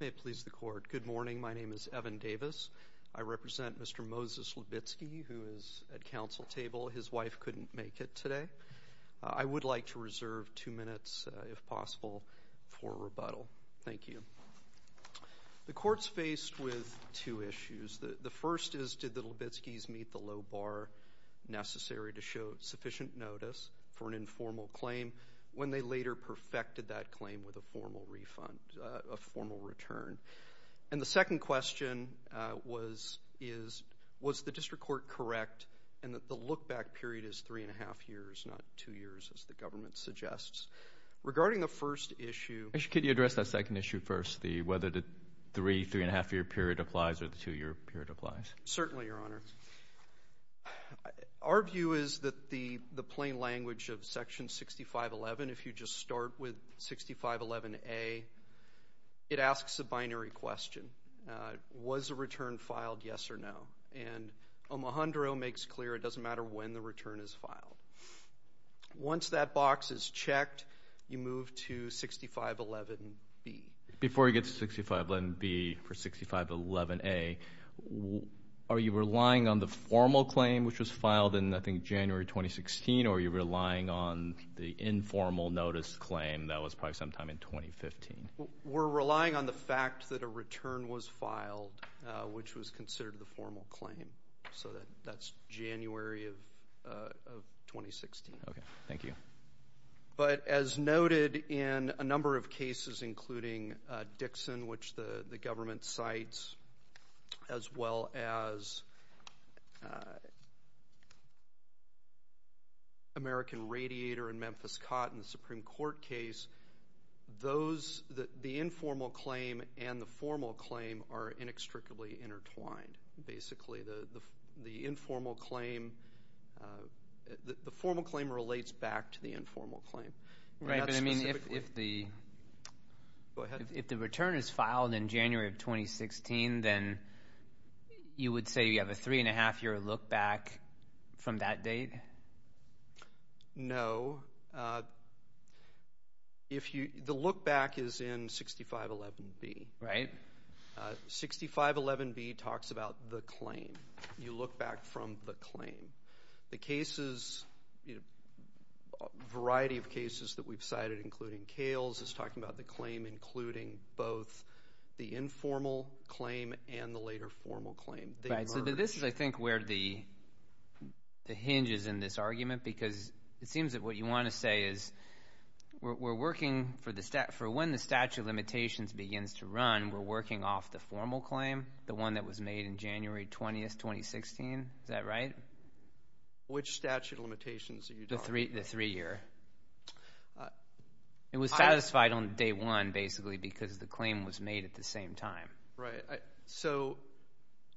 May it please the Court. Good morning. My name is Evan Davis. I represent Mr. Moses Libitzky, who is at council table. His wife couldn't make it today. I would like to reserve two minutes, if possible, for rebuttal. Thank you. The Court's faced with two issues. The first is, did the Libitzkys meet the low bar necessary to show sufficient notice for an informal claim, when they later perfected that claim with a formal refund, a formal return? And the second question was, is, was the District Court correct in that the look-back period is three and a half years, not two years, as the government suggests? Regarding the first issue Actually, could you address that second issue first, the whether the three, three and a half year period applies or the two year period applies? Certainly, Your Honor. Our view is that the plain language of Section 6511, if you just start with 6511A, it asks a binary question. Was the return filed, yes or no? And Omohundro makes clear it doesn't matter when the return is filed. Once that box is checked, you move to 6511B. Before you get to 6511B, for 6511A, are you relying on the formal claim, which was filed in, I think, January 2016, or are you relying on the informal notice claim that was filed sometime in 2015? We're relying on the fact that a return was filed, which was considered the formal claim. So that's January of 2016. Okay. Thank you. But as noted in a number of cases, including Dixon, which the government cites, as well as American Radiator and Memphis Cotton, the Supreme Court case, those, the informal claim and the formal claim are inextricably intertwined. Basically, the informal claim, the formal claim relates back to the informal claim. Right, but I mean, if the return is filed in January of 2016, then you would say you have a three and a half year look back from that date? No. The look back is in 6511B. Right. 6511B talks about the claim. You look back from the claim. The cases, a variety of cases that we've cited, including Kales, is talking about the claim, including both the informal claim and the later formal claim. Right. So this is, I think, where the hinge is in this argument, because it seems that what you want to say is, we're working for the, for when the statute of limitations begins to run, we're working off the formal claim, the one that was made in January 20th, 2016. Is that right? Which statute of limitations are you talking about? The three year. It was satisfied on day one, basically, because the claim was made at the same time. Right. So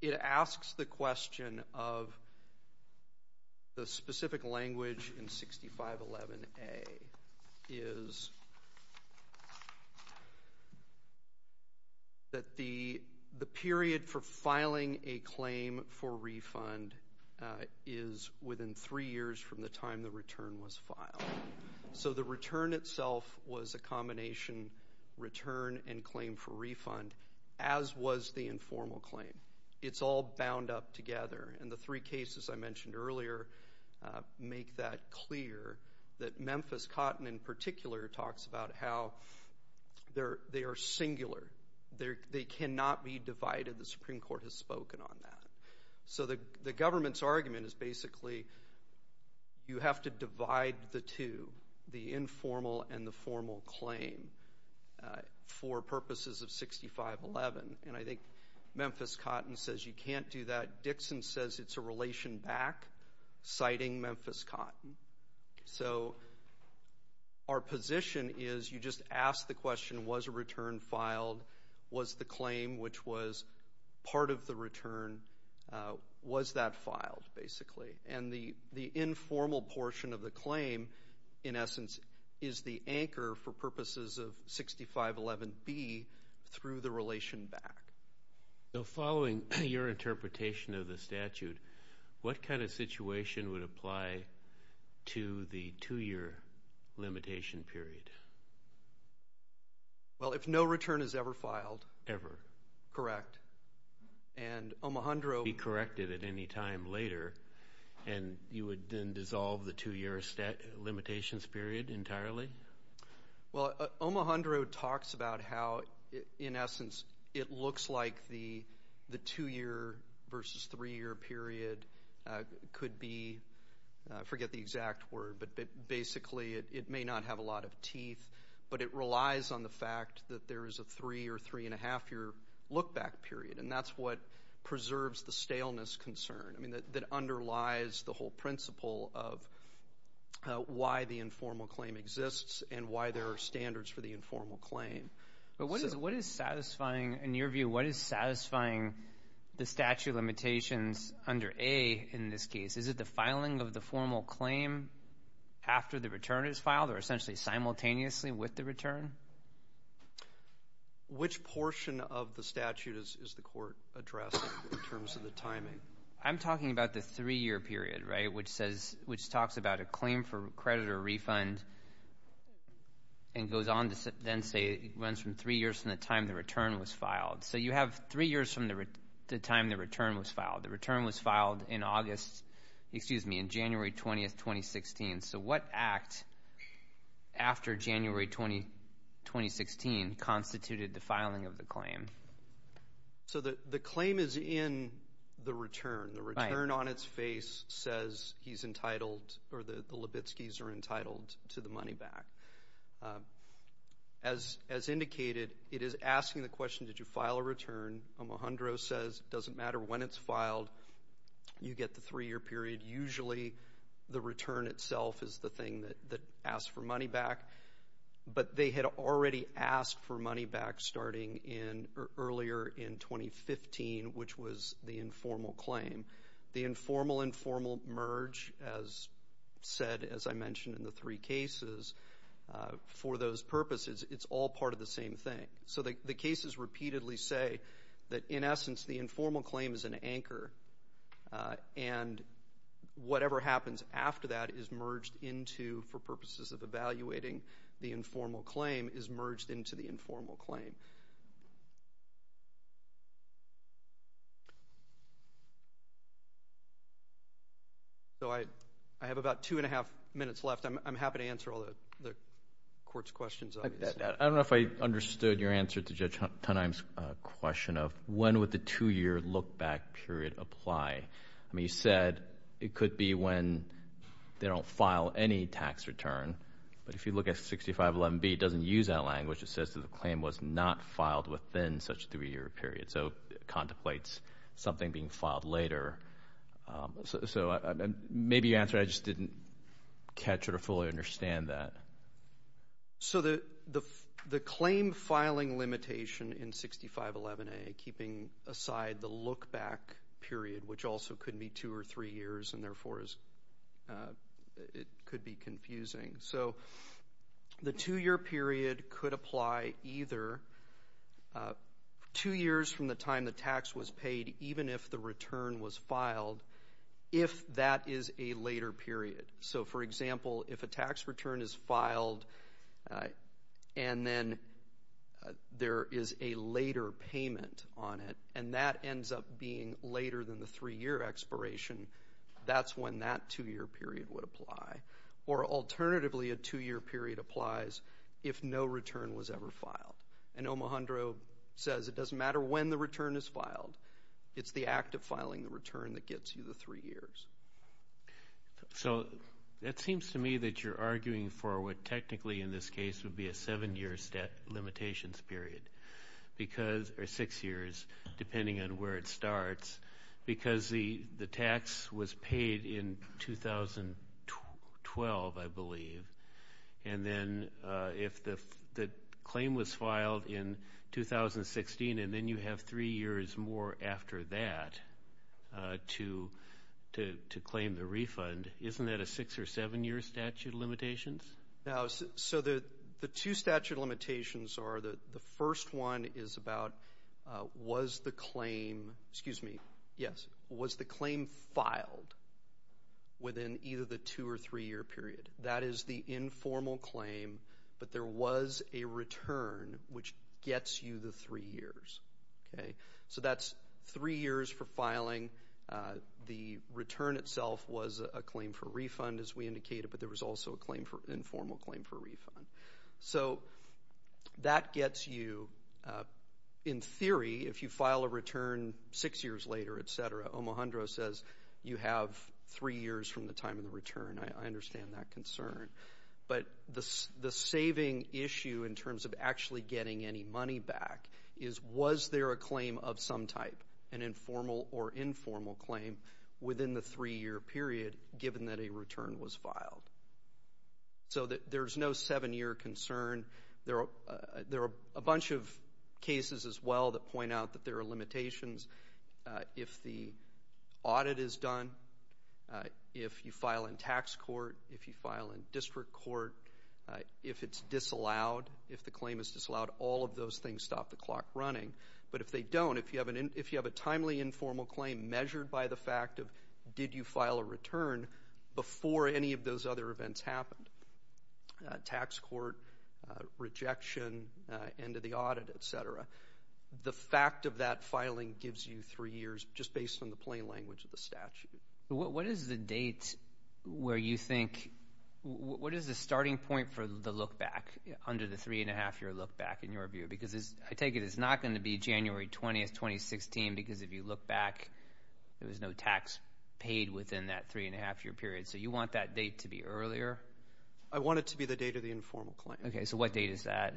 it asks the question of the specific language in 6511A is that the period for filing a claim for refund is within three years from the time the return was filed. So the return itself was a combination return and claim for refund, as was the informal claim. It's all bound up together, and the three cases I mentioned earlier make that clear, that Memphis Cotton, in particular, talks about how they are singular, they cannot be divided. The Supreme Court has spoken on that. So the government's argument is, basically, you have to divide the two, the informal and the formal claim, for purposes of 6511, and I think Memphis Cotton says you can't do that. Dixon says it's a relation back, citing Memphis Cotton. So our position is, you just ask the question, was a return filed? Was the claim, which was part of the return, was that filed, basically? And the informal portion of the claim, in essence, is the anchor for purposes of 6511B, through the relation back. So following your interpretation of the statute, what kind of situation would apply to the two year limitation period? Well, if no return is ever filed. Ever. Correct. And Omohundro. Be corrected at any time later, and you would then dissolve the two year limitations period entirely? Well, Omohundro talks about how, in essence, it looks like the two year versus three year period could be, I forget the exact word, but basically, it may not have a lot of teeth, but it relies on the fact that there is a three or three and a half year look back period, and that's what preserves the staleness concern. I mean, that underlies the whole principle of why the informal claim exists and why there are standards for the informal claim. But what is satisfying, in your view, what is satisfying the statute limitations under A in this case? Is it the filing of the formal claim after the return is filed, or essentially simultaneously with the return? Which portion of the statute is the court addressing in terms of the timing? I'm talking about the three year period, right, which talks about a claim for credit or refund and goes on to then say it runs from three years from the time the return was filed. So you have three years from the time the return was filed. The return was filed in August, excuse me, in January 20, 2016. So what act after January 20, 2016, constituted the filing of the claim? So the claim is in the return. Right. The return on its face says he's entitled, or the Libitskis are entitled to the money back. As indicated, it is asking the question, did you file a return? Alejandro says it doesn't matter when it's filed. You get the three year period. Usually the return itself is the thing that asks for money back, but they had already asked for money back starting earlier in 2015, which was the informal claim. The informal-informal merge, as said, as I mentioned in the three cases, for those purposes, it's all part of the same thing. So the cases repeatedly say that, in essence, the informal claim is an anchor, and whatever happens after that is merged into, for purposes of evaluating the informal claim, is merged into the informal claim. So I have about two and a half minutes left. I'm happy to answer all the Court's questions on this. I don't know if I understood your answer to Judge Tonheim's question of, when would the two-year look-back period apply? I mean, you said it could be when they don't file any tax return, but if you look at 6511B, it doesn't use that language. It says that the claim was not filed within such a three-year period, so it contemplates something being filed later. So maybe your answer, I just didn't catch or fully understand that. So the claim filing limitation in 6511A, keeping aside the look-back period, which also could be two or three years and, therefore, it could be confusing. So the two-year period could apply either two years from the time the tax was paid, even if the return was filed, if that is a later period. So, for example, if a tax return is filed and then there is a later payment on it, and that ends up being later than the three-year expiration, that's when that two-year period would apply. Or, alternatively, a two-year period applies if no return was ever filed. And Omohundro says it doesn't matter when the return is filed, it's the act of filing the return that gets you the three years. So it seems to me that you're arguing for what technically, in this case, would be a seven-year limitations period, or six years, depending on where it starts, because the tax was paid in 2012, I believe, and then if the claim was filed in 2016 and then you have three years more after that to claim the refund, isn't that a six- or seven-year statute of limitations? No. So the two statute of limitations are the first one is about was the claim filed within either the two- or three-year period. That is the informal claim, but there was a return which gets you the three years. So that's three years for filing. The return itself was a claim for refund, as we indicated, but there was also an informal claim for refund. So that gets you, in theory, if you file a return six years later, et cetera, Omohundro says you have three years from the time of the return. I understand that concern. But the saving issue in terms of actually getting any money back is was there a claim of some type, an informal or informal claim within the three-year period given that a return was filed? So there's no seven-year concern. There are a bunch of cases as well that point out that there are limitations. If the audit is done, if you file in tax court, if you file in district court, if it's disallowed, if the claim is disallowed, all of those things stop the clock running. But if they don't, if you have a timely informal claim measured by the fact of did you file a return before any of those other events happened, tax court, rejection, end of the audit, et cetera, the fact of that filing gives you three years just based on the plain language of the statute. What is the date where you think – what is the starting point for the look-back under the three-and-a-half-year look-back in your view? Because I take it it's not going to be January 20th, 2016, because if you look back, there was no tax paid within that three-and-a-half-year period. So you want that date to be earlier? I want it to be the date of the informal claim. Okay. So what date is that?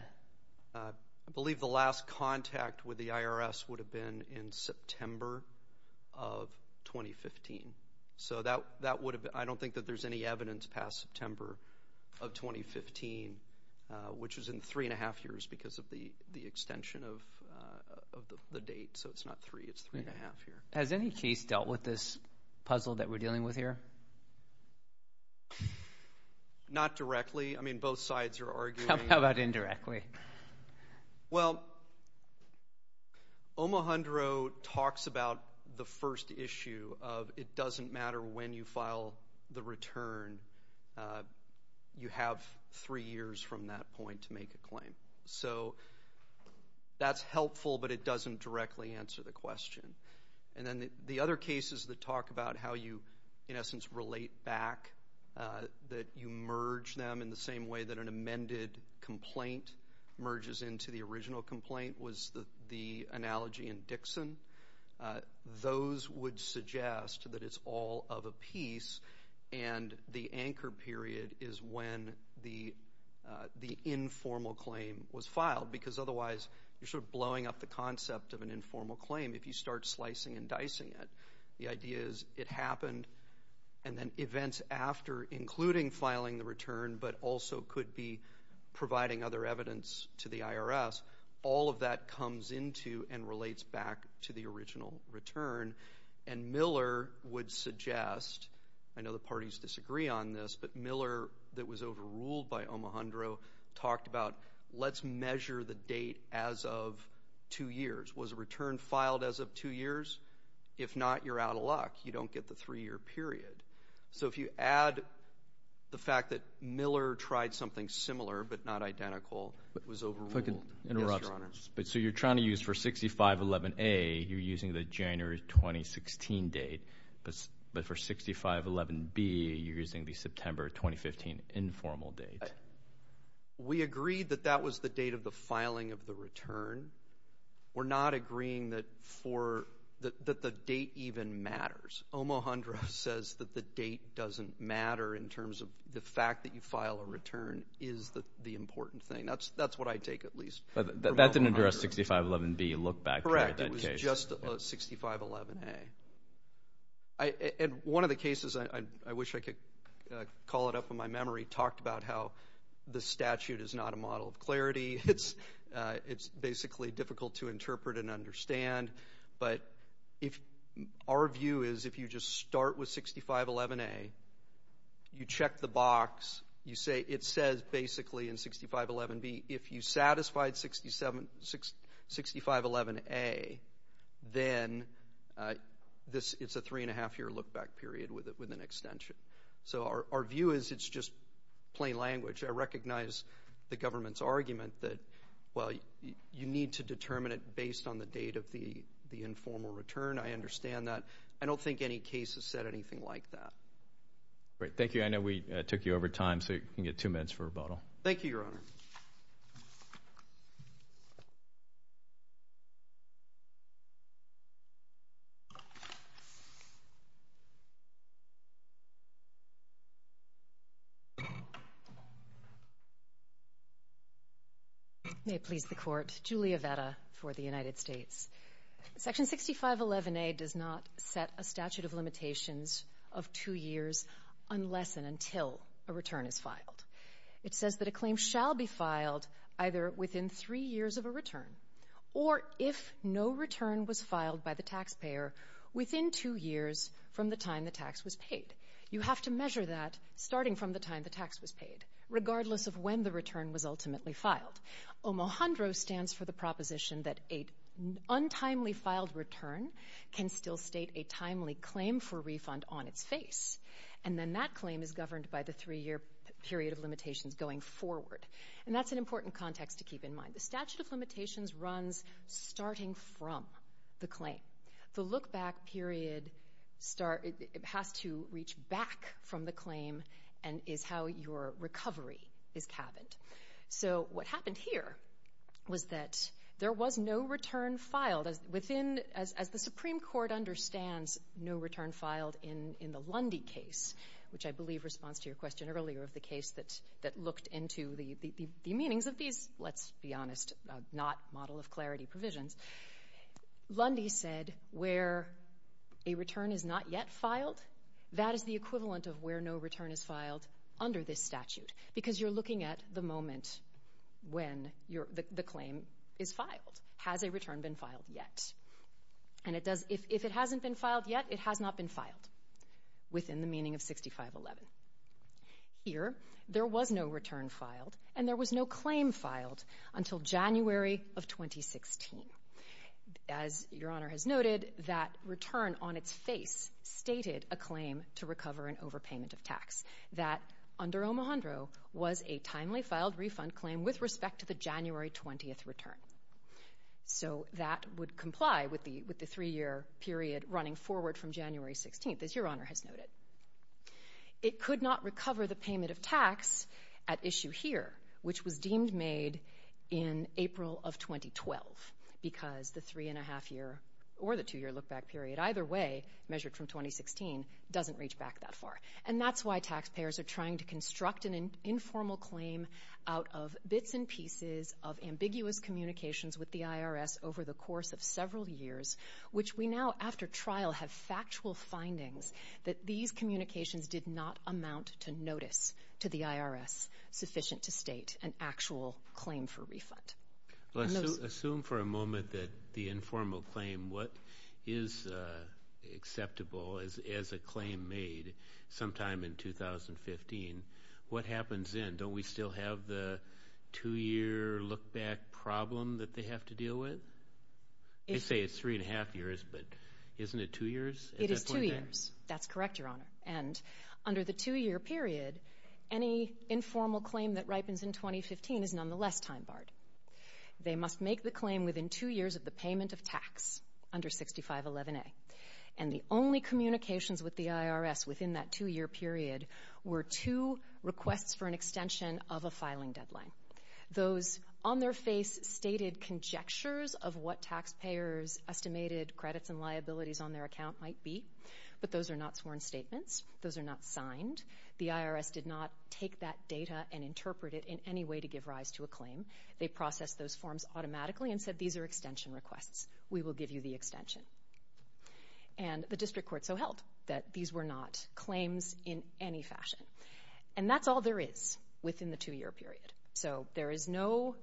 I believe the last contact with the IRS would have been in September of 2015. So that would have – I don't think that there's any evidence past September of 2015, which is in three-and-a-half years because of the extension of the date. So it's not three, it's three-and-a-half years. Has any case dealt with this puzzle that we're dealing with here? Not directly. I mean, both sides are arguing. How about indirectly? Well, Omohundro talks about the first issue of it doesn't matter when you file the return. You have three years from that point to make a claim. So that's helpful, but it doesn't directly answer the question. And then the other cases that talk about how you, in essence, relate back, that you merge them in the same way that an amended complaint merges into the original complaint, was the analogy in Dixon. Those would suggest that it's all of a piece, and the anchor period is when the informal claim was filed, because otherwise you're sort of blowing up the concept of an informal claim if you start slicing and dicing it. The idea is it happened, and then events after, including filing the return, but also could be providing other evidence to the IRS, all of that comes into and relates back to the original return. And Miller would suggest, I know the parties disagree on this, but Miller, that was overruled by Omohundro, talked about let's measure the date as of two years. Was a return filed as of two years? If not, you're out of luck. You don't get the three-year period. So if you add the fact that Miller tried something similar but not identical, it was overruled. If I could interrupt. Yes, Your Honor. So you're trying to use for 6511A, you're using the January 2016 date, but for 6511B, you're using the September 2015 informal date. We agreed that that was the date of the filing of the return. We're not agreeing that the date even matters. Omohundro says that the date doesn't matter in terms of the fact that you file a return is the important thing. That's what I take at least. That didn't address 6511B. Look back at that case. Correct. It was just 6511A. And one of the cases, I wish I could call it up in my memory, talked about how the statute is not a model of clarity. It's basically difficult to interpret and understand. But our view is if you just start with 6511A, you check the box, it says basically in 6511B, if you satisfied 6511A, then it's a three-and-a-half-year look-back period with an extension. So our view is it's just plain language. I recognize the government's argument that, well, you need to determine it based on the date of the informal return. I understand that. I don't think any case has said anything like that. Great. Thank you. I know we took you over time, so you can get two minutes for rebuttal. Thank you, Your Honor. May it please the Court. Julia Vetta for the United States. Section 6511A does not set a statute of limitations of two years unless and until a return is filed. It says that a claim shall be filed either within three years of a return or if no return was filed by the taxpayer within two years from the time the tax was paid. You have to measure that starting from the time the tax was paid, regardless of when the return was ultimately filed. Omahandro stands for the proposition that an untimely filed return can still state a timely claim for refund on its face. And then that claim is governed by the three-year period of limitations going forward. And that's an important context to keep in mind. The statute of limitations runs starting from the claim. The look-back period has to reach back from the claim and is how your recovery is cabined. So what happened here was that there was no return filed. As the Supreme Court understands, no return filed in the Lundy case, which I believe responds to your question earlier of the case that looked into the meanings of these, let's be honest, not model of clarity provisions. Lundy said where a return is not yet filed, that is the equivalent of where no return is filed under this statute, because you're looking at the moment when the claim is filed. Has a return been filed yet? And if it hasn't been filed yet, it has not been filed within the meaning of 6511. Here, there was no return filed, and there was no claim filed until January of 2016. As Your Honor has noted, that return on its face stated a claim to recover an overpayment of tax that under Omohundro was a timely filed refund claim with respect to the January 20th return. So that would comply with the three-year period running forward from January 16th, as Your Honor has noted. It could not recover the payment of tax at issue here, which was deemed made in April of 2012, because the three-and-a-half year or the two-year look-back period, either way, measured from 2016, doesn't reach back that far. And that's why taxpayers are trying to construct an informal claim out of bits and pieces of ambiguous communications with the IRS over the course of several years, which we now, after trial, have factual findings that these communications did not amount to notice to the IRS sufficient to state an actual claim for refund. Assume for a moment that the informal claim, what is acceptable as a claim made sometime in 2015, what happens then? Don't we still have the two-year look-back problem that they have to deal with? They say it's three-and-a-half years, but isn't it two years? It is two years. That's correct, Your Honor. And under the two-year period, any informal claim that ripens in 2015 is nonetheless time-barred. They must make the claim within two years of the payment of tax under 6511A. And the only communications with the IRS within that two-year period were two requests for an extension of a filing deadline. Those on their face stated conjectures of what taxpayers' estimated credits and liabilities on their account might be, but those are not sworn statements. Those are not signed. The IRS did not take that data and interpret it in any way to give rise to a claim. They processed those forms automatically and said, These are extension requests. We will give you the extension. And the district court so held that these were not claims in any fashion. And that's all there is within the two-year period. So there is no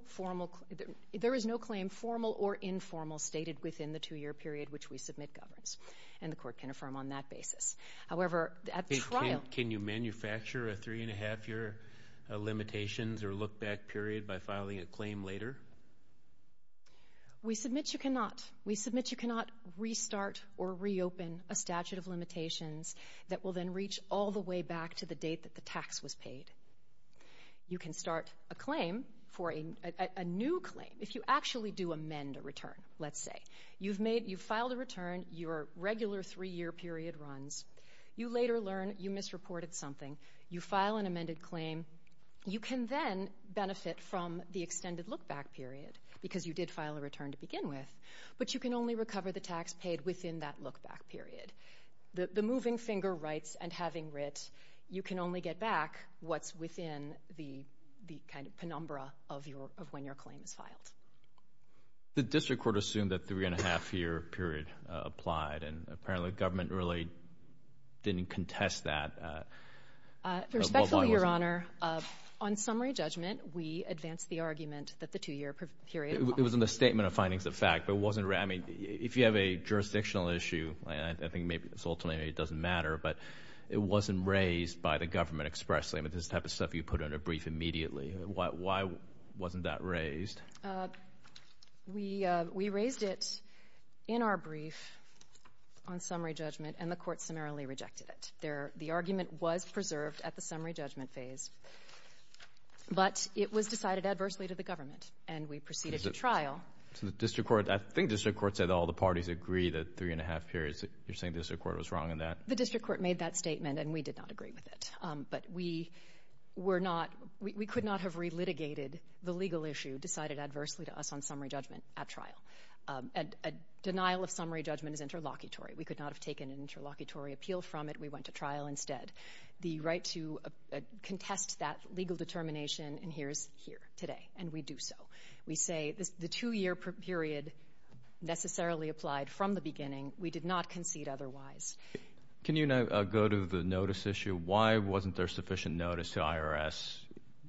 claim, formal or informal, stated within the two-year period which we submit governs. And the court can affirm on that basis. However, at trial- Can you manufacture a three-and-a-half-year limitations or look-back period by filing a claim later? We submit you cannot. We submit you cannot restart or reopen a statute of limitations that will then reach all the way back to the date that the tax was paid. You can start a claim for a new claim if you actually do amend a return, let's say. You've filed a return. Your regular three-year period runs. You later learn you misreported something. You file an amended claim. You can then benefit from the extended look-back period because you did file a return to begin with. But you can only recover the tax paid within that look-back period. The moving finger rights and having writ, you can only get back what's within the kind of penumbra of when your claim is filed. The district court assumed that three-and-a-half-year period applied, and apparently government really didn't contest that. Respectfully, Your Honor, on summary judgment, we advanced the argument that the two-year period- It was in the statement of findings of fact, but it wasn't- I mean, if you have a jurisdictional issue, I think maybe it's ultimately it doesn't matter, but it wasn't raised by the government expressly. Why wasn't that raised? We raised it in our brief on summary judgment, and the court summarily rejected it. The argument was preserved at the summary judgment phase, but it was decided adversely to the government, and we proceeded to trial. So the district court, I think district court said all the parties agree that three-and-a-half periods, you're saying district court was wrong in that? The district court made that statement, and we did not agree with it. But we were not-we could not have relitigated the legal issue decided adversely to us on summary judgment at trial. A denial of summary judgment is interlocutory. We could not have taken an interlocutory appeal from it. We went to trial instead. The right to contest that legal determination in here is here today, and we do so. We say the two-year period necessarily applied from the beginning. We did not concede otherwise. Can you go to the notice issue? Why wasn't there sufficient notice to IRS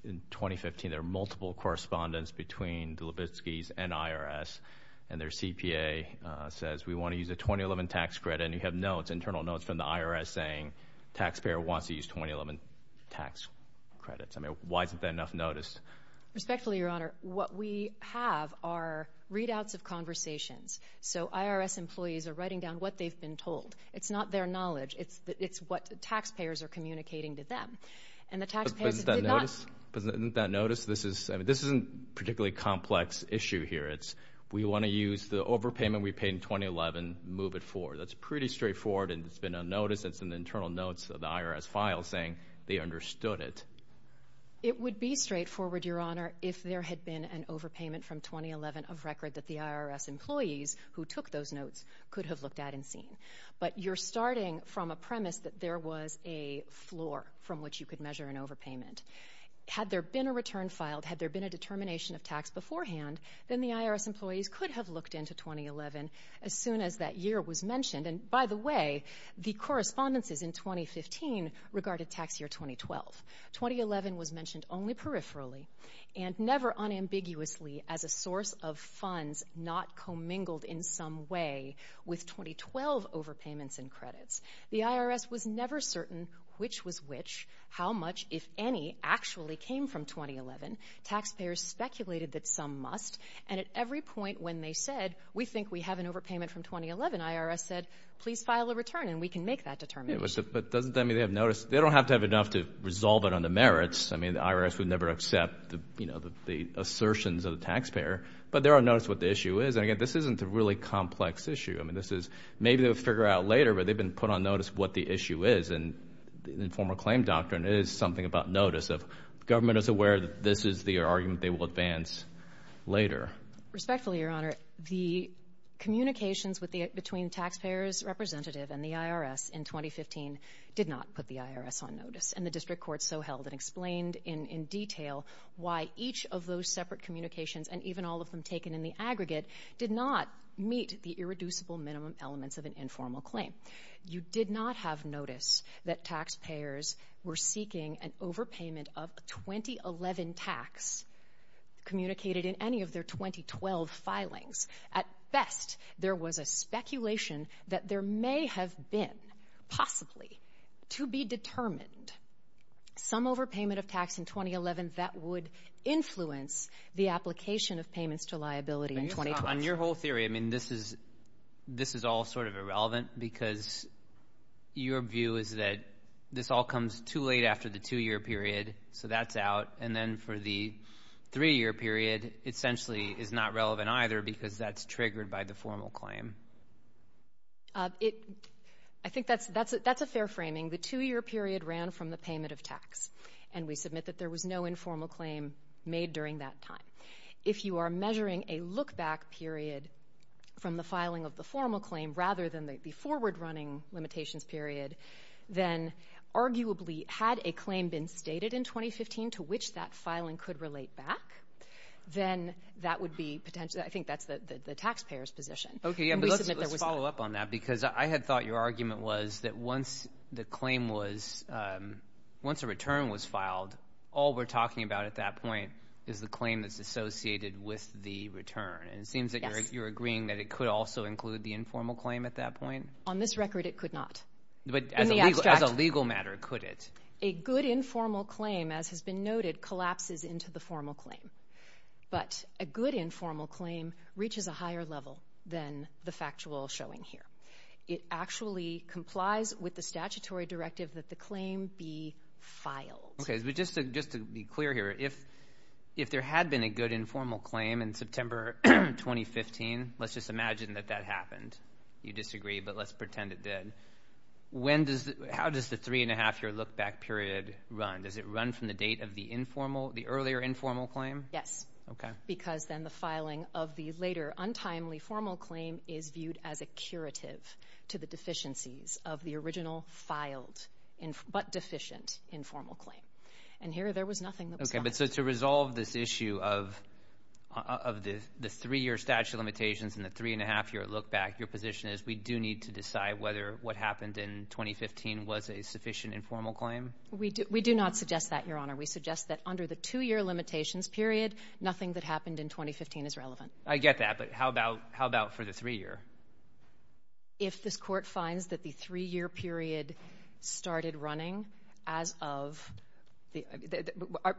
in 2015? There are multiple correspondence between the Levitskys and IRS, and their CPA says we want to use a 2011 tax credit, and you have notes, internal notes from the IRS saying taxpayer wants to use 2011 tax credits. I mean, why isn't there enough notice? Respectfully, Your Honor, what we have are readouts of conversations, so IRS employees are writing down what they've been told. It's not their knowledge. It's what taxpayers are communicating to them, and the taxpayers did not- But isn't that notice? I mean, this isn't a particularly complex issue here. It's we want to use the overpayment we paid in 2011, move it forward. That's pretty straightforward, and it's been on notice. It's in the internal notes of the IRS file saying they understood it. It would be straightforward, Your Honor, if there had been an overpayment from 2011 of record that the IRS employees who took those notes could have looked at and seen. But you're starting from a premise that there was a floor from which you could measure an overpayment. Had there been a return filed, had there been a determination of tax beforehand, then the IRS employees could have looked into 2011 as soon as that year was mentioned. And, by the way, the correspondences in 2015 regarded tax year 2012. 2011 was mentioned only peripherally and never unambiguously as a source of funds not commingled in some way with 2012 overpayments and credits. The IRS was never certain which was which, how much, if any, actually came from 2011. Taxpayers speculated that some must, and at every point when they said, we think we have an overpayment from 2011, the IRS said, please file a return and we can make that determination. But doesn't that mean they have notice? They don't have to have enough to resolve it on the merits. I mean, the IRS would never accept the assertions of the taxpayer, but they're on notice of what the issue is. And, again, this isn't a really complex issue. I mean, this is maybe they'll figure out later, but they've been put on notice of what the issue is. And the informal claim doctrine is something about notice of government is aware that this is the argument they will advance later. Respectfully, Your Honor, the communications between taxpayers' representative and the IRS in 2015 did not put the IRS on notice. And the district court so held and explained in detail why each of those separate communications and even all of them taken in the aggregate did not meet the irreducible minimum elements of an informal claim. You did not have notice that taxpayers were seeking an overpayment of a 2011 tax communicated in any of their 2012 filings. At best, there was a speculation that there may have been, possibly, to be determined some overpayment of tax in 2011 that would influence the application of payments to liability in 2012. On your whole theory, I mean, this is all sort of irrelevant because your view is that this all comes too late after the two-year period, so that's out. And then for the three-year period, essentially, it's not relevant either because that's triggered by the formal claim. I think that's a fair framing. The two-year period ran from the payment of tax, and we submit that there was no informal claim made during that time. If you are measuring a look-back period from the filing of the formal claim rather than the forward-running limitations period, then arguably had a claim been stated in 2015 to which that filing could relate back, then that would be potentially the taxpayer's position. Let's follow up on that because I had thought your argument was that once the claim was once a return was filed, all we're talking about at that point is the claim that's associated with the return. It seems that you're agreeing that it could also include the informal claim at that point. On this record, it could not. But as a legal matter, could it? A good informal claim, as has been noted, collapses into the formal claim. But a good informal claim reaches a higher level than the factual showing here. It actually complies with the statutory directive that the claim be filed. Okay, but just to be clear here, if there had been a good informal claim in September 2015, let's just imagine that that happened. You disagree, but let's pretend it did. How does the three-and-a-half-year look-back period run? Does it run from the date of the earlier informal claim? Yes, because then the filing of the later untimely formal claim is viewed as a curative to the deficiencies of the original filed but deficient informal claim. And here there was nothing that was filed. Okay, but so to resolve this issue of the three-year statute of limitations and the three-and-a-half-year look-back, your position is we do need to decide whether what happened in 2015 was a sufficient informal claim? We do not suggest that, Your Honor. We suggest that under the two-year limitations period, nothing that happened in 2015 is relevant. I get that, but how about for the three-year? If this Court finds that the three-year period started running as of the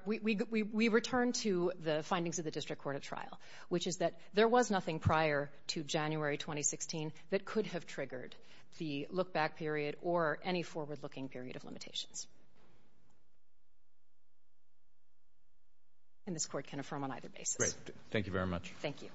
— we return to the findings of the District Court of Trial, which is that there was nothing prior to January 2016 that could have triggered the look-back period or any forward-looking period of limitations. And this Court can affirm on either basis. Great. Thank you very much. Thank you.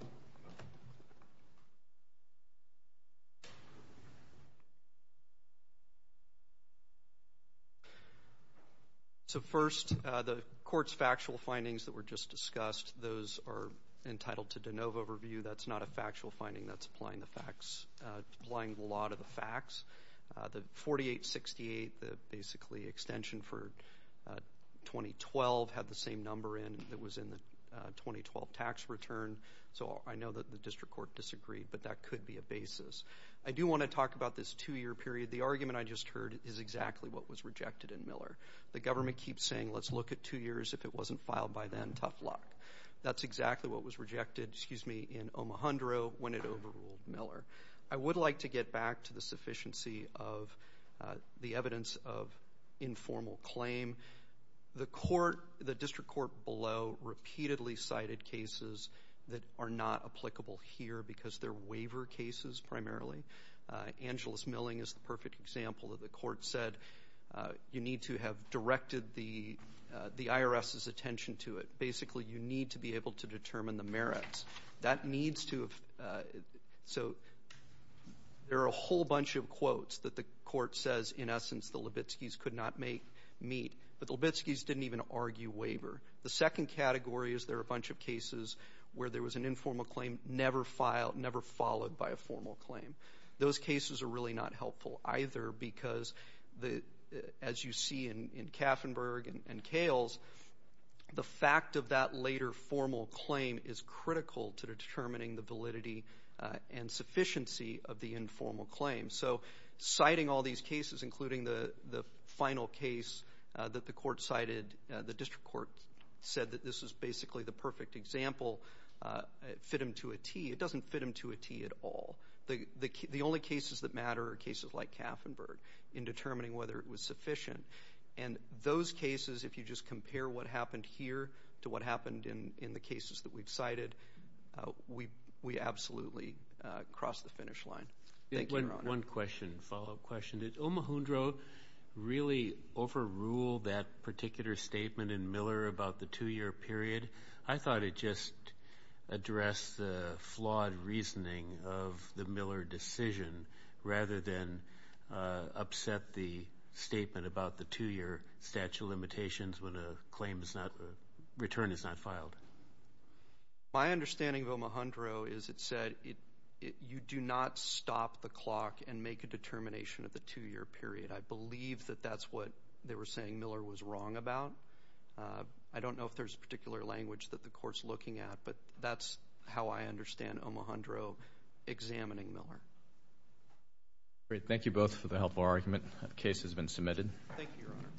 So, first, the Court's factual findings that were just discussed, those are entitled to de novo review. That's not a factual finding. That's applying the facts, applying the law to the facts. The 4868, the basically extension for 2012, had the same number in that was in the 2012 tax return. So I know that the District Court disagreed, but that could be a basis. I do want to talk about this two-year period. The argument I just heard is exactly what was rejected in Miller. The government keeps saying, let's look at two years. If it wasn't filed by then, tough luck. That's exactly what was rejected in Omohundro when it overruled Miller. I would like to get back to the sufficiency of the evidence of informal claim. The District Court below repeatedly cited cases that are not applicable here because they're waiver cases primarily. Angeles Milling is the perfect example that the Court said you need to have directed the IRS's attention to it. Basically, you need to be able to determine the merits. So there are a whole bunch of quotes that the Court says, in essence, the Libitskis could not meet. But the Libitskis didn't even argue waiver. The second category is there are a bunch of cases where there was an informal claim never followed by a formal claim. Those cases are really not helpful either because, as you see in Kaffenberg and Kales, the fact of that later formal claim is critical to determining the validity and sufficiency of the informal claim. So citing all these cases, including the final case that the Court cited, the District Court said that this is basically the perfect example, fit them to a T. It doesn't fit them to a T at all. The only cases that matter are cases like Kaffenberg in determining whether it was sufficient. And those cases, if you just compare what happened here to what happened in the cases that we've cited, we absolutely cross the finish line. Thank you, Your Honor. One question, follow-up question. Did Omohundro really overrule that particular statement in Miller about the two-year period? I thought it just addressed the flawed reasoning of the Miller decision rather than upset the statement about the two-year statute of limitations when a return is not filed. My understanding of Omohundro is it said you do not stop the clock and make a determination of the two-year period. I believe that that's what they were saying Miller was wrong about. I don't know if there's a particular language that the Court's looking at, but that's how I understand Omohundro examining Miller. Thank you both for the helpful argument. The case has been submitted. Thank you, Your Honor.